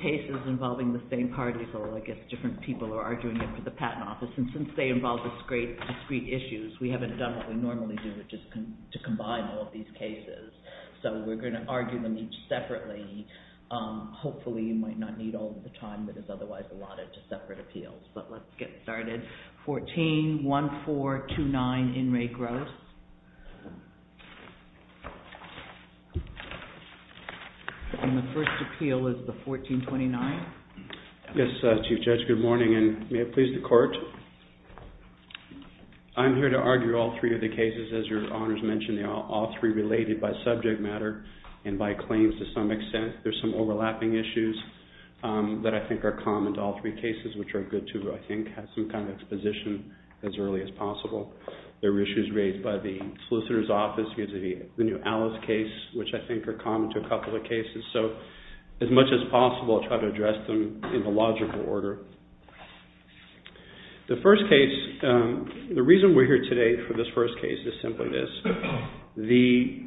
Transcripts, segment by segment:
cases involving the same party, so I guess different people are arguing it for the Patent Office, and since they involve discrete issues, we haven't done what we normally do, which is to combine all of these cases. So we're going to argue them each separately. Hopefully you might not need all of the time that is otherwise allotted to separate appeals, but let's get started. 141429, In Re Gross. And the first appeal is the 1429. Yes, Chief Judge, good morning, and may it please the Court. I'm here to argue all three of the cases, as your Honors mentioned, all three related by subject matter and by claims to some extent. There's some overlapping issues that I think are common to all three cases, which are good to, I think, have some kind of exposition as early as possible. There were issues raised by the Solicitor's Office, the new Alice case, which I think are common to a couple of cases. So as much as possible, I'll try to address them in the logical order. The first case, the reason we're here today for this first case is simply this. The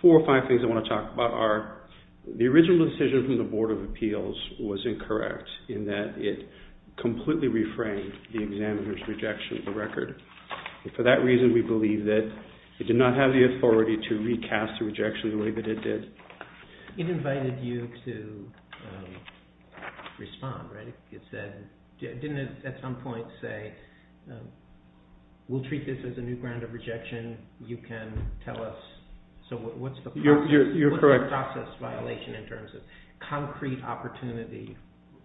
four or five things I want to talk about are the original decision from the Board of Appeals was incorrect in that it completely reframed the examiner's rejection of the record. For that reason, we believe that it did not have the authority to recast the rejection the way that it did. It invited you to respond, right? It said, didn't it at some point say, we'll treat this as a new ground of rejection, you can tell us, so what's the process violation in terms of concrete opportunity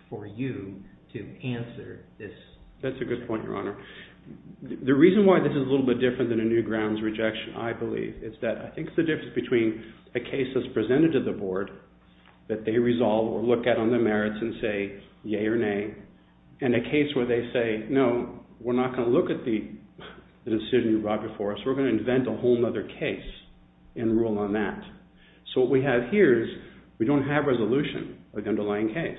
for you to answer this? That's a good point, Your Honor. The reason why this is a little bit different than a new grounds rejection, I believe, is that I think the difference between a case that's presented to the Board that they resolve or look at on their merits and say, yay or nay, and a case where they say, no, we're not going to look at the decision you brought before us, we're going to invent a whole other case and rule on that. So what we have here is we don't have resolution of the underlying case,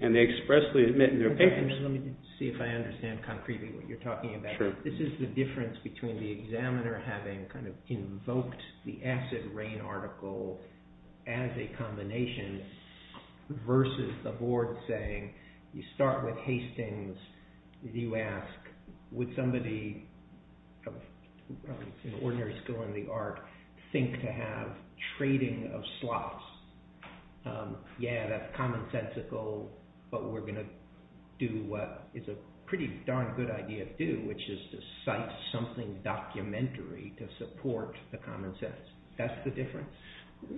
and they expressly admit in their papers... Let me see if I understand concretely what you're talking about. This is the difference between the examiner having kind of invoked the acid rain article as a combination versus the Board saying, you start with Hastings, you ask, would somebody in ordinary school in the art think to have trading of slots? Yeah, that's commonsensical, but we're going to do what is a pretty darn good idea to do, which is to cite something documentary to support the commonsense. That's the difference.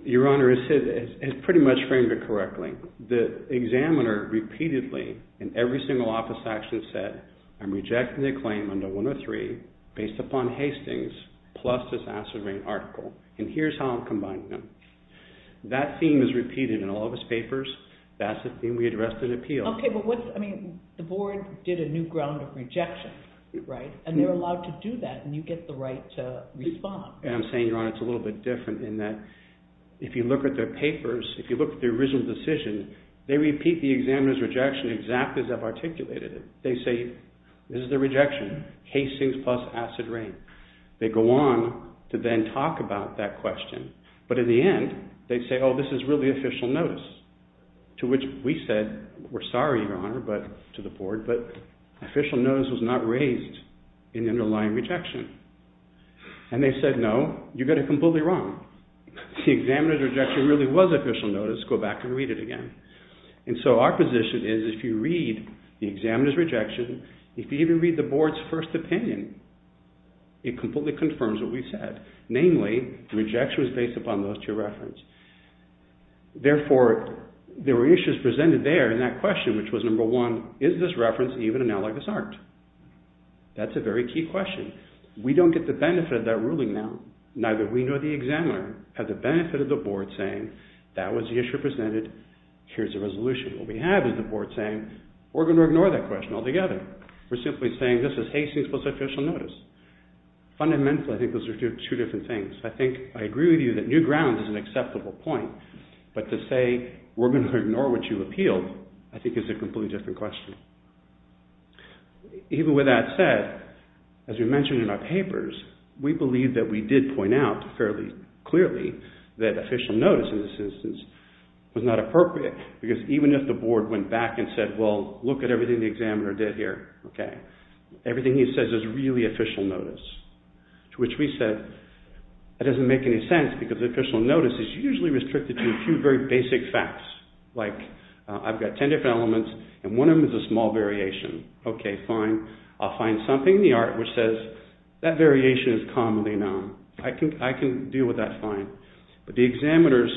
Your Honor, it's pretty much framed correctly. The examiner repeatedly in every single office action said, I'm rejecting the claim under 103 based upon Hastings plus this acid rain article, and here's how I'm combining them. That theme is repeated in all of his papers. That's the theme we addressed in appeal. Okay, but what's, I mean, the Board did a new ground of rejection, right? And they're allowed to do that, and you get the right to respond. I'm saying, Your Honor, it's a little bit different in that if you look at their papers, if you look at the original decision, they repeat the examiner's rejection exactly as I've articulated it. They say, this is the rejection, Hastings plus acid rain. They go on to then talk about that question, but in the end, they say, oh, this is really official notice, to which we said, we're sorry, Your Honor, but to the Board, but official notice was not raised in the underlying rejection. And they said, no, you got it completely wrong. The examiner's rejection really was official notice. Go back and read it again. And so our position is, if you read the examiner's rejection, if you even read the Board's first opinion, it completely confirms what we said. Namely, the rejection was based upon those two references. Therefore, there were issues presented there in that question, which was number one, is this reference even analogous art? That's a very key question. We don't get the benefit of that ruling now, neither we nor the examiner have the benefit of the Board saying, that was the issue presented, here's the resolution. What we have is the Board saying, we're going to ignore that question altogether. We're simply saying, this is Hastings plus official notice. Fundamentally, I think those are two different things. I think I agree with you that new ground is an acceptable point, but to say, we're going to ignore what you appealed, I think is a completely different question. Even with that said, as we mentioned in our papers, we believe that we did point out fairly clearly that official notice in this instance was not appropriate, because even if the Board went back and said, well, look at everything the examiner did here, okay, everything he says is really official notice, to which we said, that doesn't make any sense because official notice is usually restricted to a few very basic facts, like I've got 10 different elements and one of them is a small variation. Okay, fine, I'll find something in the art which says that variation is commonly known. I can deal with that fine, but the examiner's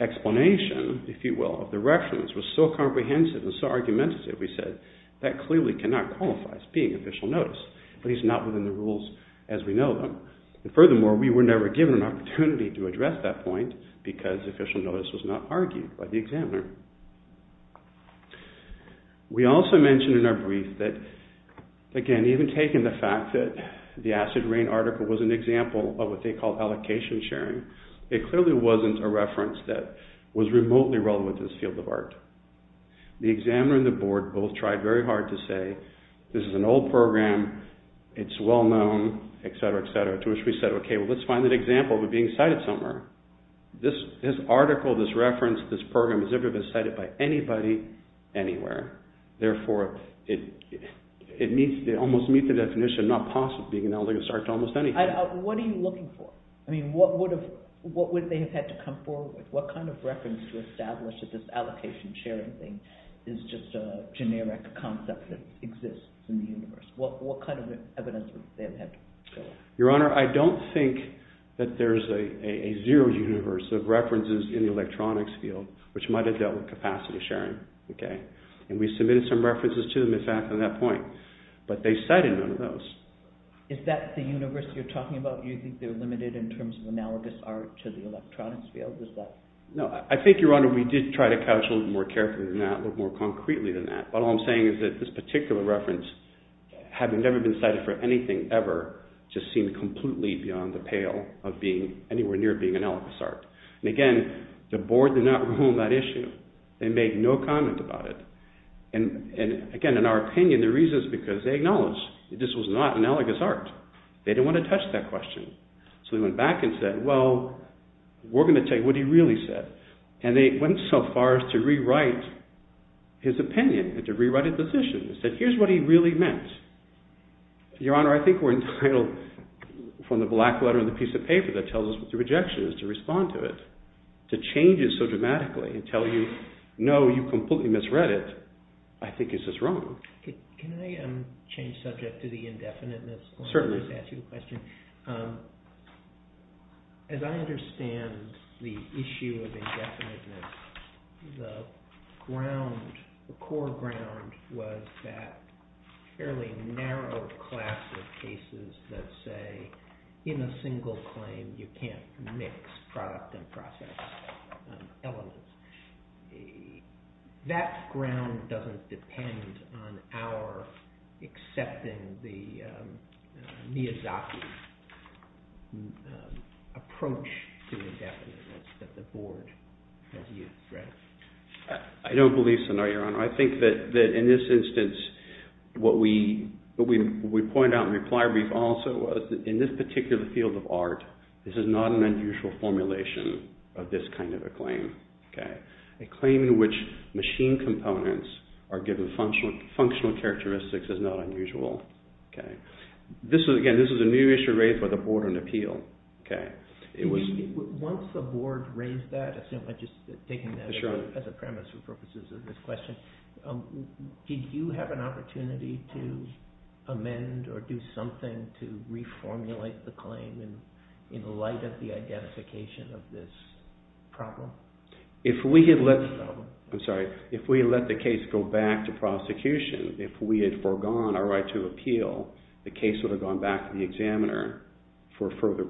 explanation, if you will, of the reference was so comprehensive and so argumentative, we said, that clearly cannot qualify as being official notice, at least not within the rules as we know them. Furthermore, we were never given an opportunity to address that point because official notice was not argued by the examiner. We also mentioned in our brief that, again, even taking the fact that the acid rain article was an example of what they call allocation sharing, it clearly wasn't a reference that was remotely relevant to this field of art. The examiner and the Board both tried very hard to say, this is an old program, it's well-known, etc., etc., to which we said, okay, let's find an example of it being cited somewhere. This article, this reference, this program has never been cited by anybody anywhere. Therefore, it almost meets the definition of not possible, being analogous to almost anything. What are you looking for? I mean, what would they have had to come forward with? What kind of reference to establish that this allocation sharing thing is just a generic concept that exists in the universe? What kind of evidence would they have had to show us? Your Honor, I don't think that there's a zero universe of references in the electronics field, which might have dealt with capacity sharing. And we submitted some references to them, in fact, on that point, but they cited none of those. Is that the universe you're talking about? You think they're limited in terms of analogous art to the electronics field? No, I think, Your Honor, we did try to couch a little more carefully than that, look more concretely than that, but all I'm saying is that this particular reference, having never been cited for anything ever, just seemed completely beyond the pale of being anywhere near being analogous art. And again, the board did not rule on that issue. They made no comment about it. And again, in our opinion, the reason is because they acknowledged that this was not analogous art. They didn't want to touch that question. So they went back and said, well, we're going to tell you what he really said. And they went so far as to rewrite his Your Honor, I think we're entitled, from the black letter on the piece of paper that tells us what the rejection is, to respond to it. To change it so dramatically and tell you, no, you completely misread it, I think is just wrong. Can I change subject to the indefiniteness? Certainly. Let me just ask you a question. As I understand the issue of indefiniteness, the ground, the relatively narrow class of cases that say, in a single claim, you can't mix product and process elements, that ground doesn't depend on our accepting the Miyazaki approach to indefiniteness that the board has used, right? I don't believe so, no, Your Honor. I think that in this instance, what we point out in the reply brief also was that in this particular field of art, this is not an unusual formulation of this kind of a claim. A claim in which machine components are given functional characteristics is not unusual. Again, this is a new issue raised by the board on appeal. Once the board raised that, assuming I'm just taking that as a premise for purposes of this question, did you have an opportunity to amend or do something to reformulate the claim in light of the identification of this problem? If we had let the case go back to prosecution, if we had foregone our right to appeal, the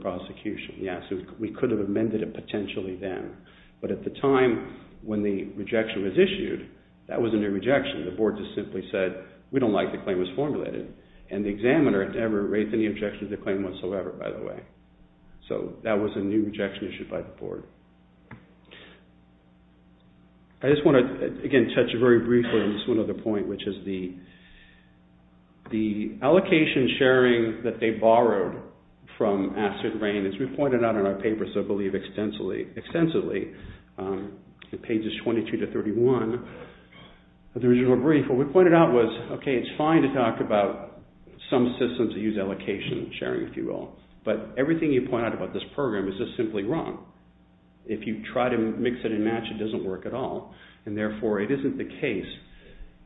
prosecution, yes, we could have amended it potentially then. But at the time when the rejection was issued, that wasn't a rejection. The board just simply said, we don't like the claim as formulated. And the examiner never raised any objection to the claim whatsoever, by the way. So that was a new rejection issued by the board. I just want to, again, touch very briefly on this one other point, which is the allocation sharing that they borrowed from acid rain. As we pointed out in our paper, so I believe extensively, in pages 22 to 31 of the original brief, what we pointed out was, okay, it's fine to talk about some systems that use allocation sharing, if you will. But everything you point out about this program is just simply wrong. If you try to mix it and match it, it doesn't work at all. And therefore, it isn't the case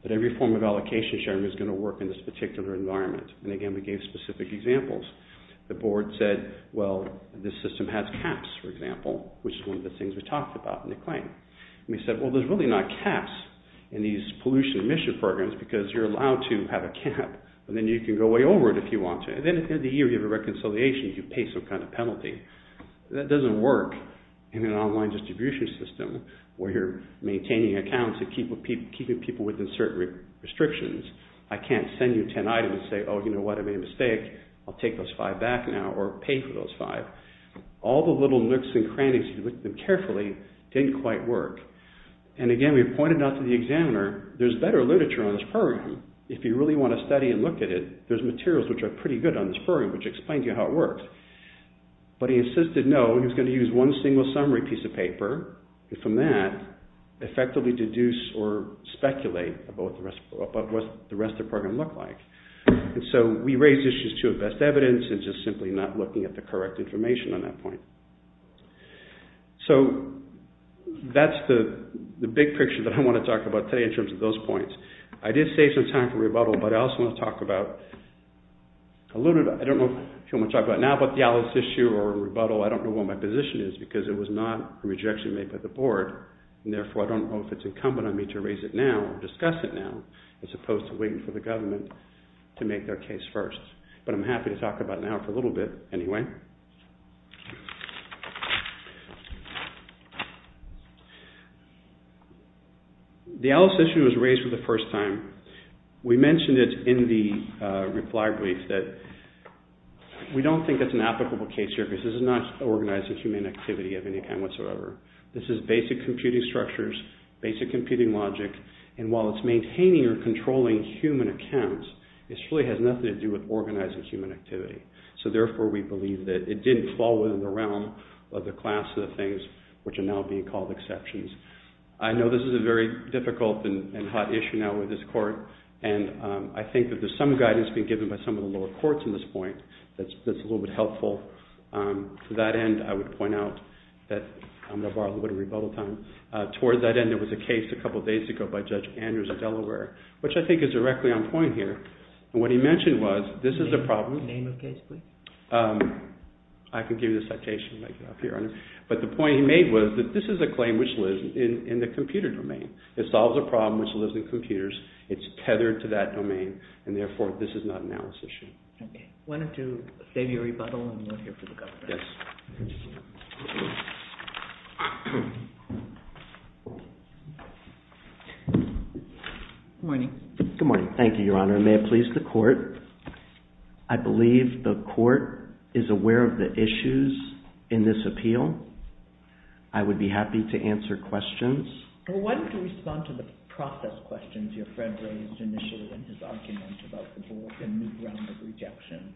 that every form of allocation sharing is going to work in this particular environment. And again, we gave specific examples. The board said, well, this system has caps, for example, which is one of the things we talked about in the claim. And we said, well, there's really not caps in these pollution emission programs because you're allowed to have a cap, and then you can go way over it if you want to. And then at the end of the year, you have a reconciliation, you pay some kind of penalty. That doesn't work in an online distribution system where you're maintaining accounts and keeping people within certain restrictions. I can't send you 10 items and say, oh, you know what, I made a mistake. I'll take those five back now or pay for those five. All the little nooks and crannies, if you look at them carefully, didn't quite work. And again, we pointed out to the examiner, there's better literature on this program if you really want to study and look at it. There's materials which are pretty good on this program, which explains to you how it works. But he insisted, no, he was going to use one single summary piece of paper, and from that, effectively deduce or speculate about what the rest of the program looked like. And so, we raised issues, too, of best evidence and just simply not looking at the correct information on that point. So, that's the big picture that I want to talk about today in terms of those points. I did save some time for rebuttal, but I also want to talk about, I don't know if you want to talk about it now, but the Alice issue or rebuttal, I don't know what my position is because it was not a rejection made by the board, and therefore, I don't know if it's incumbent on me to raise it now or discuss it now as opposed to waiting for the government to make their case first. But I'm happy to talk about it now for a little bit anyway. The Alice issue was raised for the first time. We mentioned it in the reply brief that we don't think that's an applicable case here because this is not organizing human activity of any kind whatsoever. This is basic computing structures, basic computing logic, and while it's maintaining or controlling human accounts, it really has nothing to do with organizing human activity. So, therefore, we believe that it didn't fall within the realm of the class of the things which are now being called exceptions. I know this is a very difficult and hot issue now with this court, and I think that there's some guidance being given by some of the lower courts in this point that's a little bit helpful. To that end, I would point out that I'm going to borrow a little bit of rebuttal time. Towards that end, there was a case a couple of days ago by Judge Andrews of Delaware, which I think is directly on point here. What he mentioned was this is a problem. Name of case, please. I can give you the citation. But the point he made was that this is a claim which lives in the computer domain. It solves a problem which lives in computers. It's tethered to that domain, and, therefore, this is not an Alice issue. Okay. Why don't you save your rebuttal, and we'll hear from the government. Yes. Good morning. Good morning. Thank you, Your Honor. May it please the court, I believe the court is aware of the issues in this appeal. I would be happy to answer questions. Why don't you respond to the process questions your friend raised initially in his argument about the board and new ground of rejection,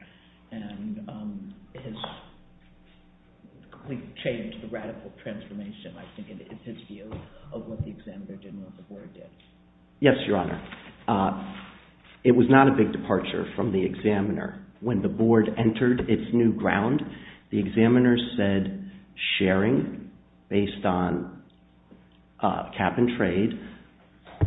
and we've changed the radical transformation, I think, in his view, of what the examiner did and what the board did. Yes, Your Honor. It was not a big departure from the examiner. When the board entered its new ground, the examiner said sharing based on cap-and-trade,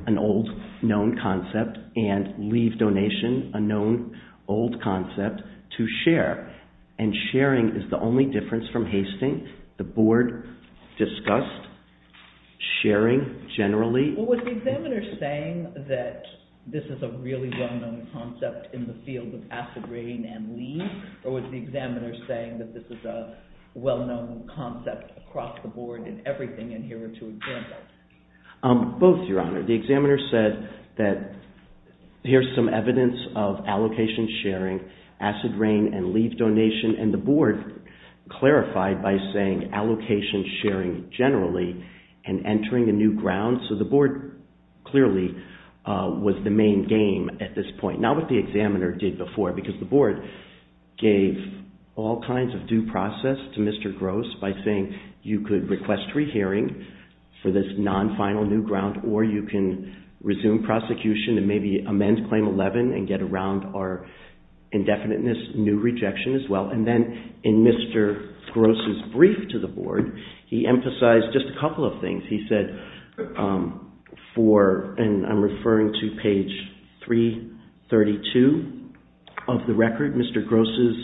an old known concept, and leave donation, a known old concept, to share. And sharing is the only difference from hasting. The board discussed sharing generally. Well, was the examiner saying that this is a really well-known concept in the field of Was the examiner saying that this is a well-known concept across the board in everything in here to example? Both, Your Honor. The examiner said that here's some evidence of allocation sharing, acid rain, and leave donation, and the board clarified by saying allocation sharing generally and entering a new ground. So the board clearly was the main game at this point. Not what the examiner did before, because the board gave all kinds of due process to Mr. Gross by saying you could request rehearing for this non-final new ground, or you can resume prosecution and maybe amend Claim 11 and get around our indefiniteness, new rejection as well. And then in Mr. Gross' brief to the board, he emphasized just a couple of things. He said for, and I'm referring to page 332 of the record, Mr. Gross'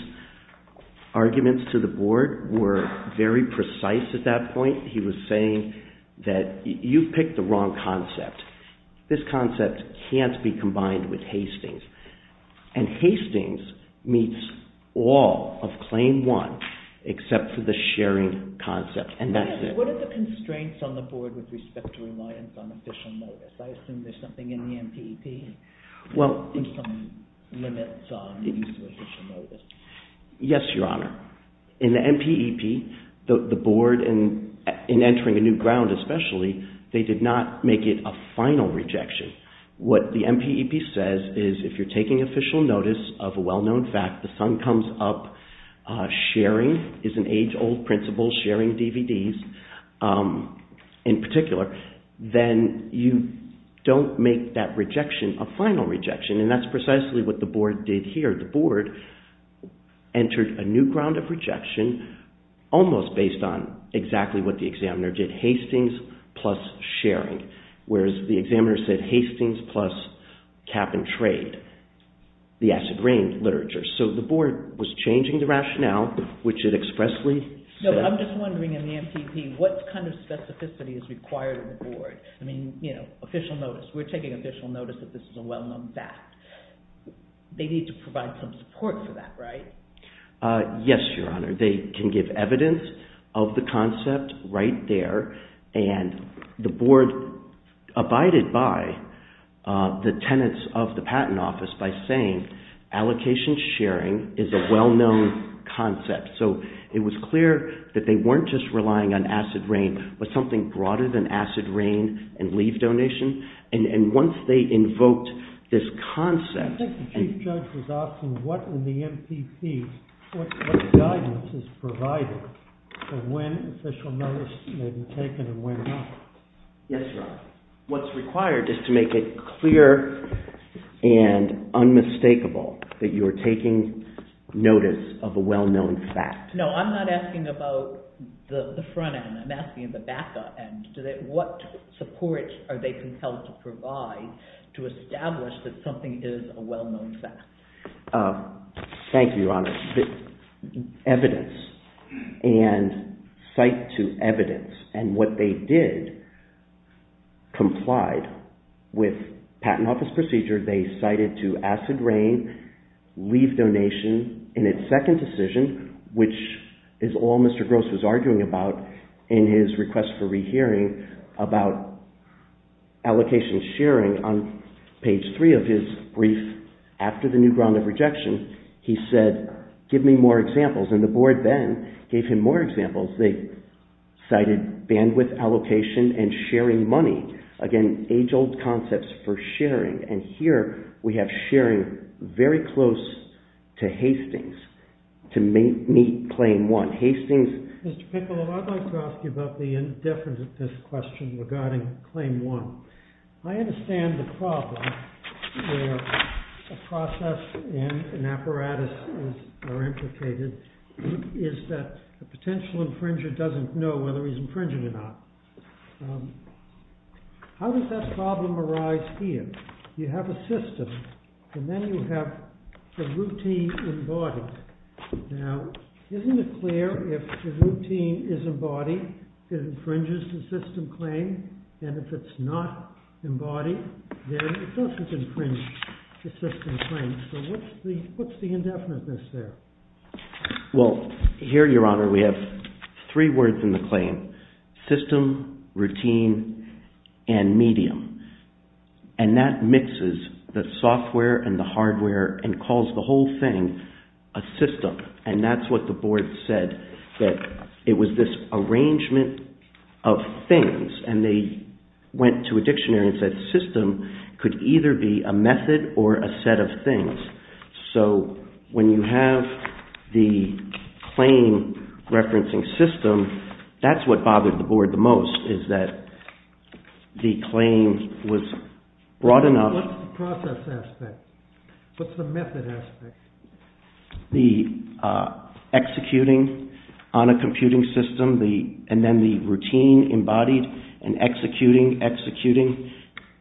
arguments to the board were very precise at that point. He was saying that you picked the wrong concept. This concept can't be combined with Hastings. And Hastings meets all of Claim 1, except for the sharing concept. And that's it. What are the constraints on the board with respect to reliance on official notice? I assume there's something in the MPEP? Yes, Your Honor. In the MPEP, the board, in entering a new ground especially, they did not make it a final rejection. What the MPEP says is if you're taking official notice of in particular, then you don't make that rejection a final rejection. And that's precisely what the board did here. The board entered a new ground of rejection almost based on exactly what the examiner did, Hastings plus sharing. Whereas the examiner said Hastings plus cap and trade, the acid rain literature. So the board was changing the rationale, which it expressly said. I'm just wondering in the MPEP, what kind of specificity is required of the board? I mean, you know, official notice. We're taking official notice that this is a well-known fact. They need to provide some support for that, right? Yes, Your Honor. They can give evidence of the concept right there. And the board abided by the tenants of the patent office by saying allocation sharing is a well-known concept. So it was clear that they weren't just relying on acid rain, but something broader than acid rain and leave donation. And once they invoked this concept... I think the Chief Judge was asking what in the MPEP, what guidance is provided for when official notice may be taken and when not. Yes, Your Honor. What's required is to make it clear and unmistakable that you're taking notice of a well-known fact. No, I'm not asking about the front end. I'm asking the back end. What support are they compelled to provide to establish that something is a well-known fact? Thank you, Your Honor. Evidence. And cite to evidence. And what they did complied with in its second decision, which is all Mr. Gross was arguing about in his request for rehearing about allocation sharing on page three of his brief after the new ground of rejection, he said, give me more examples. And the board then gave him more examples. They cited bandwidth allocation and sharing money. Again, age-old concepts for sharing. And here we have sharing very close to Hastings to meet claim one. Hastings... Mr. Piccolo, I'd like to ask you about the indifference of this question regarding claim one. I understand the problem where a process and an apparatus are implicated is that a potential infringer doesn't know whether he's infringing or not. How does that problem arise here? You have a system, and then you have the routine embodied. Now, isn't it clear if the routine is embodied, it infringes the system claim? And if it's not embodied, then it doesn't infringe the system claim. So what's the indefiniteness there? Well, here, Your Honor, we have three words in the claim, system, routine, and medium. And that mixes the software and the hardware and calls the whole thing a system. And that's what the board said, that it was this arrangement of things. And they went to a dictionary and could either be a method or a set of things. So when you have the claim referencing system, that's what bothered the board the most, is that the claim was broad enough... What's the process aspect? What's the method aspect? The executing on a computing system, and then the routine embodied, and executing, executing,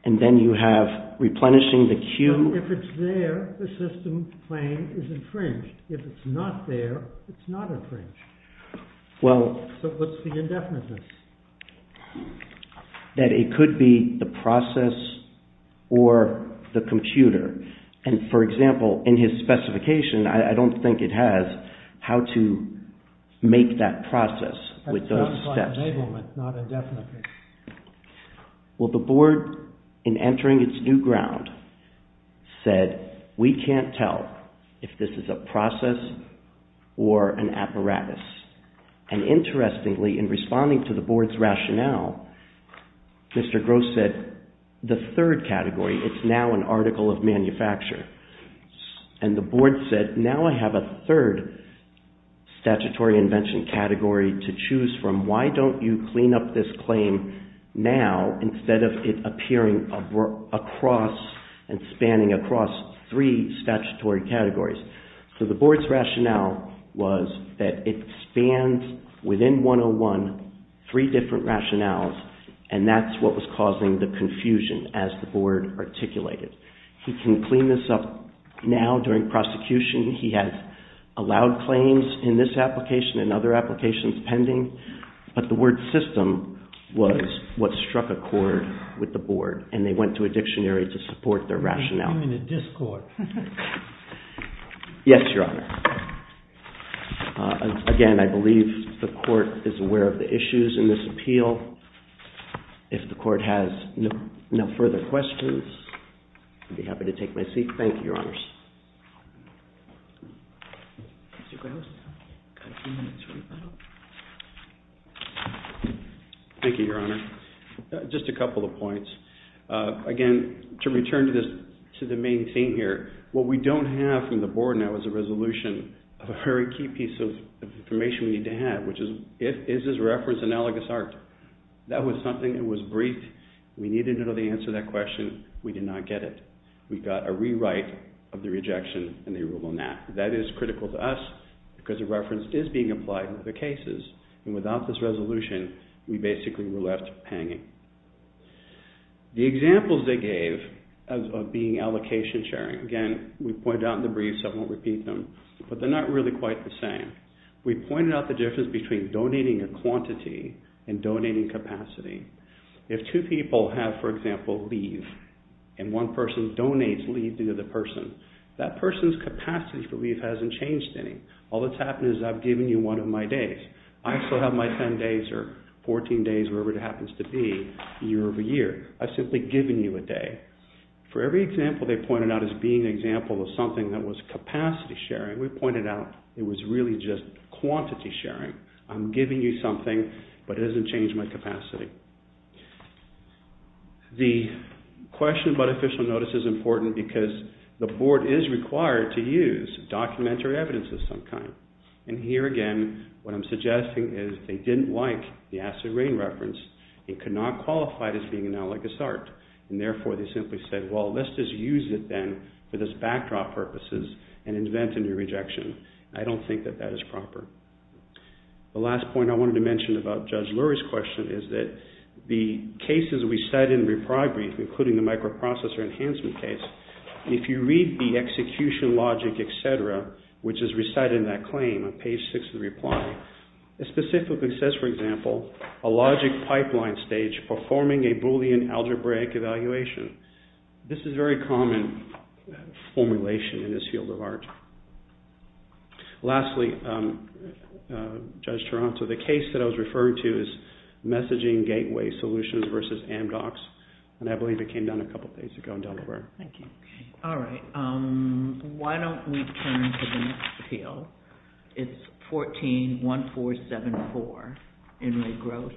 and then you have replenishing the queue... If it's there, the system claim is infringed. If it's not there, it's not infringed. Well... So what's the indefiniteness? That it could be the process or the computer. And for example, in his specification, I don't think it has how to make that process with those steps. That sounds like enablement, not indefiniteness. Well, the board, in entering its new ground, said, we can't tell if this is a process or an apparatus. And interestingly, in responding to the board's rationale, Mr. Gross said, the third category, it's now an article of manufacture. And the board said, now I have a third statutory invention category to choose from. Why don't you clean up this claim now instead of it appearing across and spanning across three statutory categories? So the board's rationale was that it spans, within 101, three different rationales, and that's what was causing the confusion as the board articulated. He can clean this up now during prosecution. He has allowed claims in this application and other applications pending. But the word system was what struck a chord with the board, and they went to a dictionary to support their rationale. I'm in a discord. Yes, Your Honor. Again, I believe the court is aware of the issues in this appeal. If the court has no further questions, I'd be happy to take my seat. Thank you, Your Honors. Mr. Gross? Thank you, Your Honor. Just a couple of points. Again, to return to this situation, to the main theme here, what we don't have from the board now is a resolution of a very key piece of information we need to have, which is, is this reference analogous art? That was something that was briefed. We needed to know the answer to that question. We did not get it. We got a rewrite of the rejection and the rule on that. That is critical to us because the reference is being applied in other cases, and without this resolution, we basically were left hanging. The examples they gave of being allocation sharing, again, we pointed out in the brief, so I won't repeat them, but they're not really quite the same. We pointed out the difference between donating a quantity and donating capacity. If two people have, for example, leave, and one person donates leave to the other person, that person's capacity for leave hasn't changed any. All that's happened is I've given you one of my days. I still have my 10 days or 14 days, whatever it happens to be, year over year. I've simply given you a day. For every example they pointed out as being an example of something that was capacity sharing, we pointed out it was really just quantity sharing. I'm giving you something, but it hasn't changed my capacity. The question about official notice is important because the board is required to use documentary evidence of some kind, and here again, what I'm suggesting is they didn't like the acid rain reference. It could not qualify as being analogous art, and therefore, they simply said, well, let's just use it then for this backdrop purposes and invent a new rejection. I don't think that that is proper. The last point I wanted to mention about Judge Lurie's question is that the cases we said in Repry Brief, including the microprocessor enhancement case, if you read the execution logic, etc., which is recited in that claim on page 6 of the reply, it specifically says, for example, a logic pipeline stage performing a Boolean algebraic evaluation. This is a very common formulation in this field of art. Lastly, Judge Toronto, the case that I was referring to is messaging gateway solutions versus Amdocs, and I believe it came down a couple of days ago in Delaware. Thank you. All right. Why don't we turn to the next appeal? It's 14-1474, Enright Gross, also.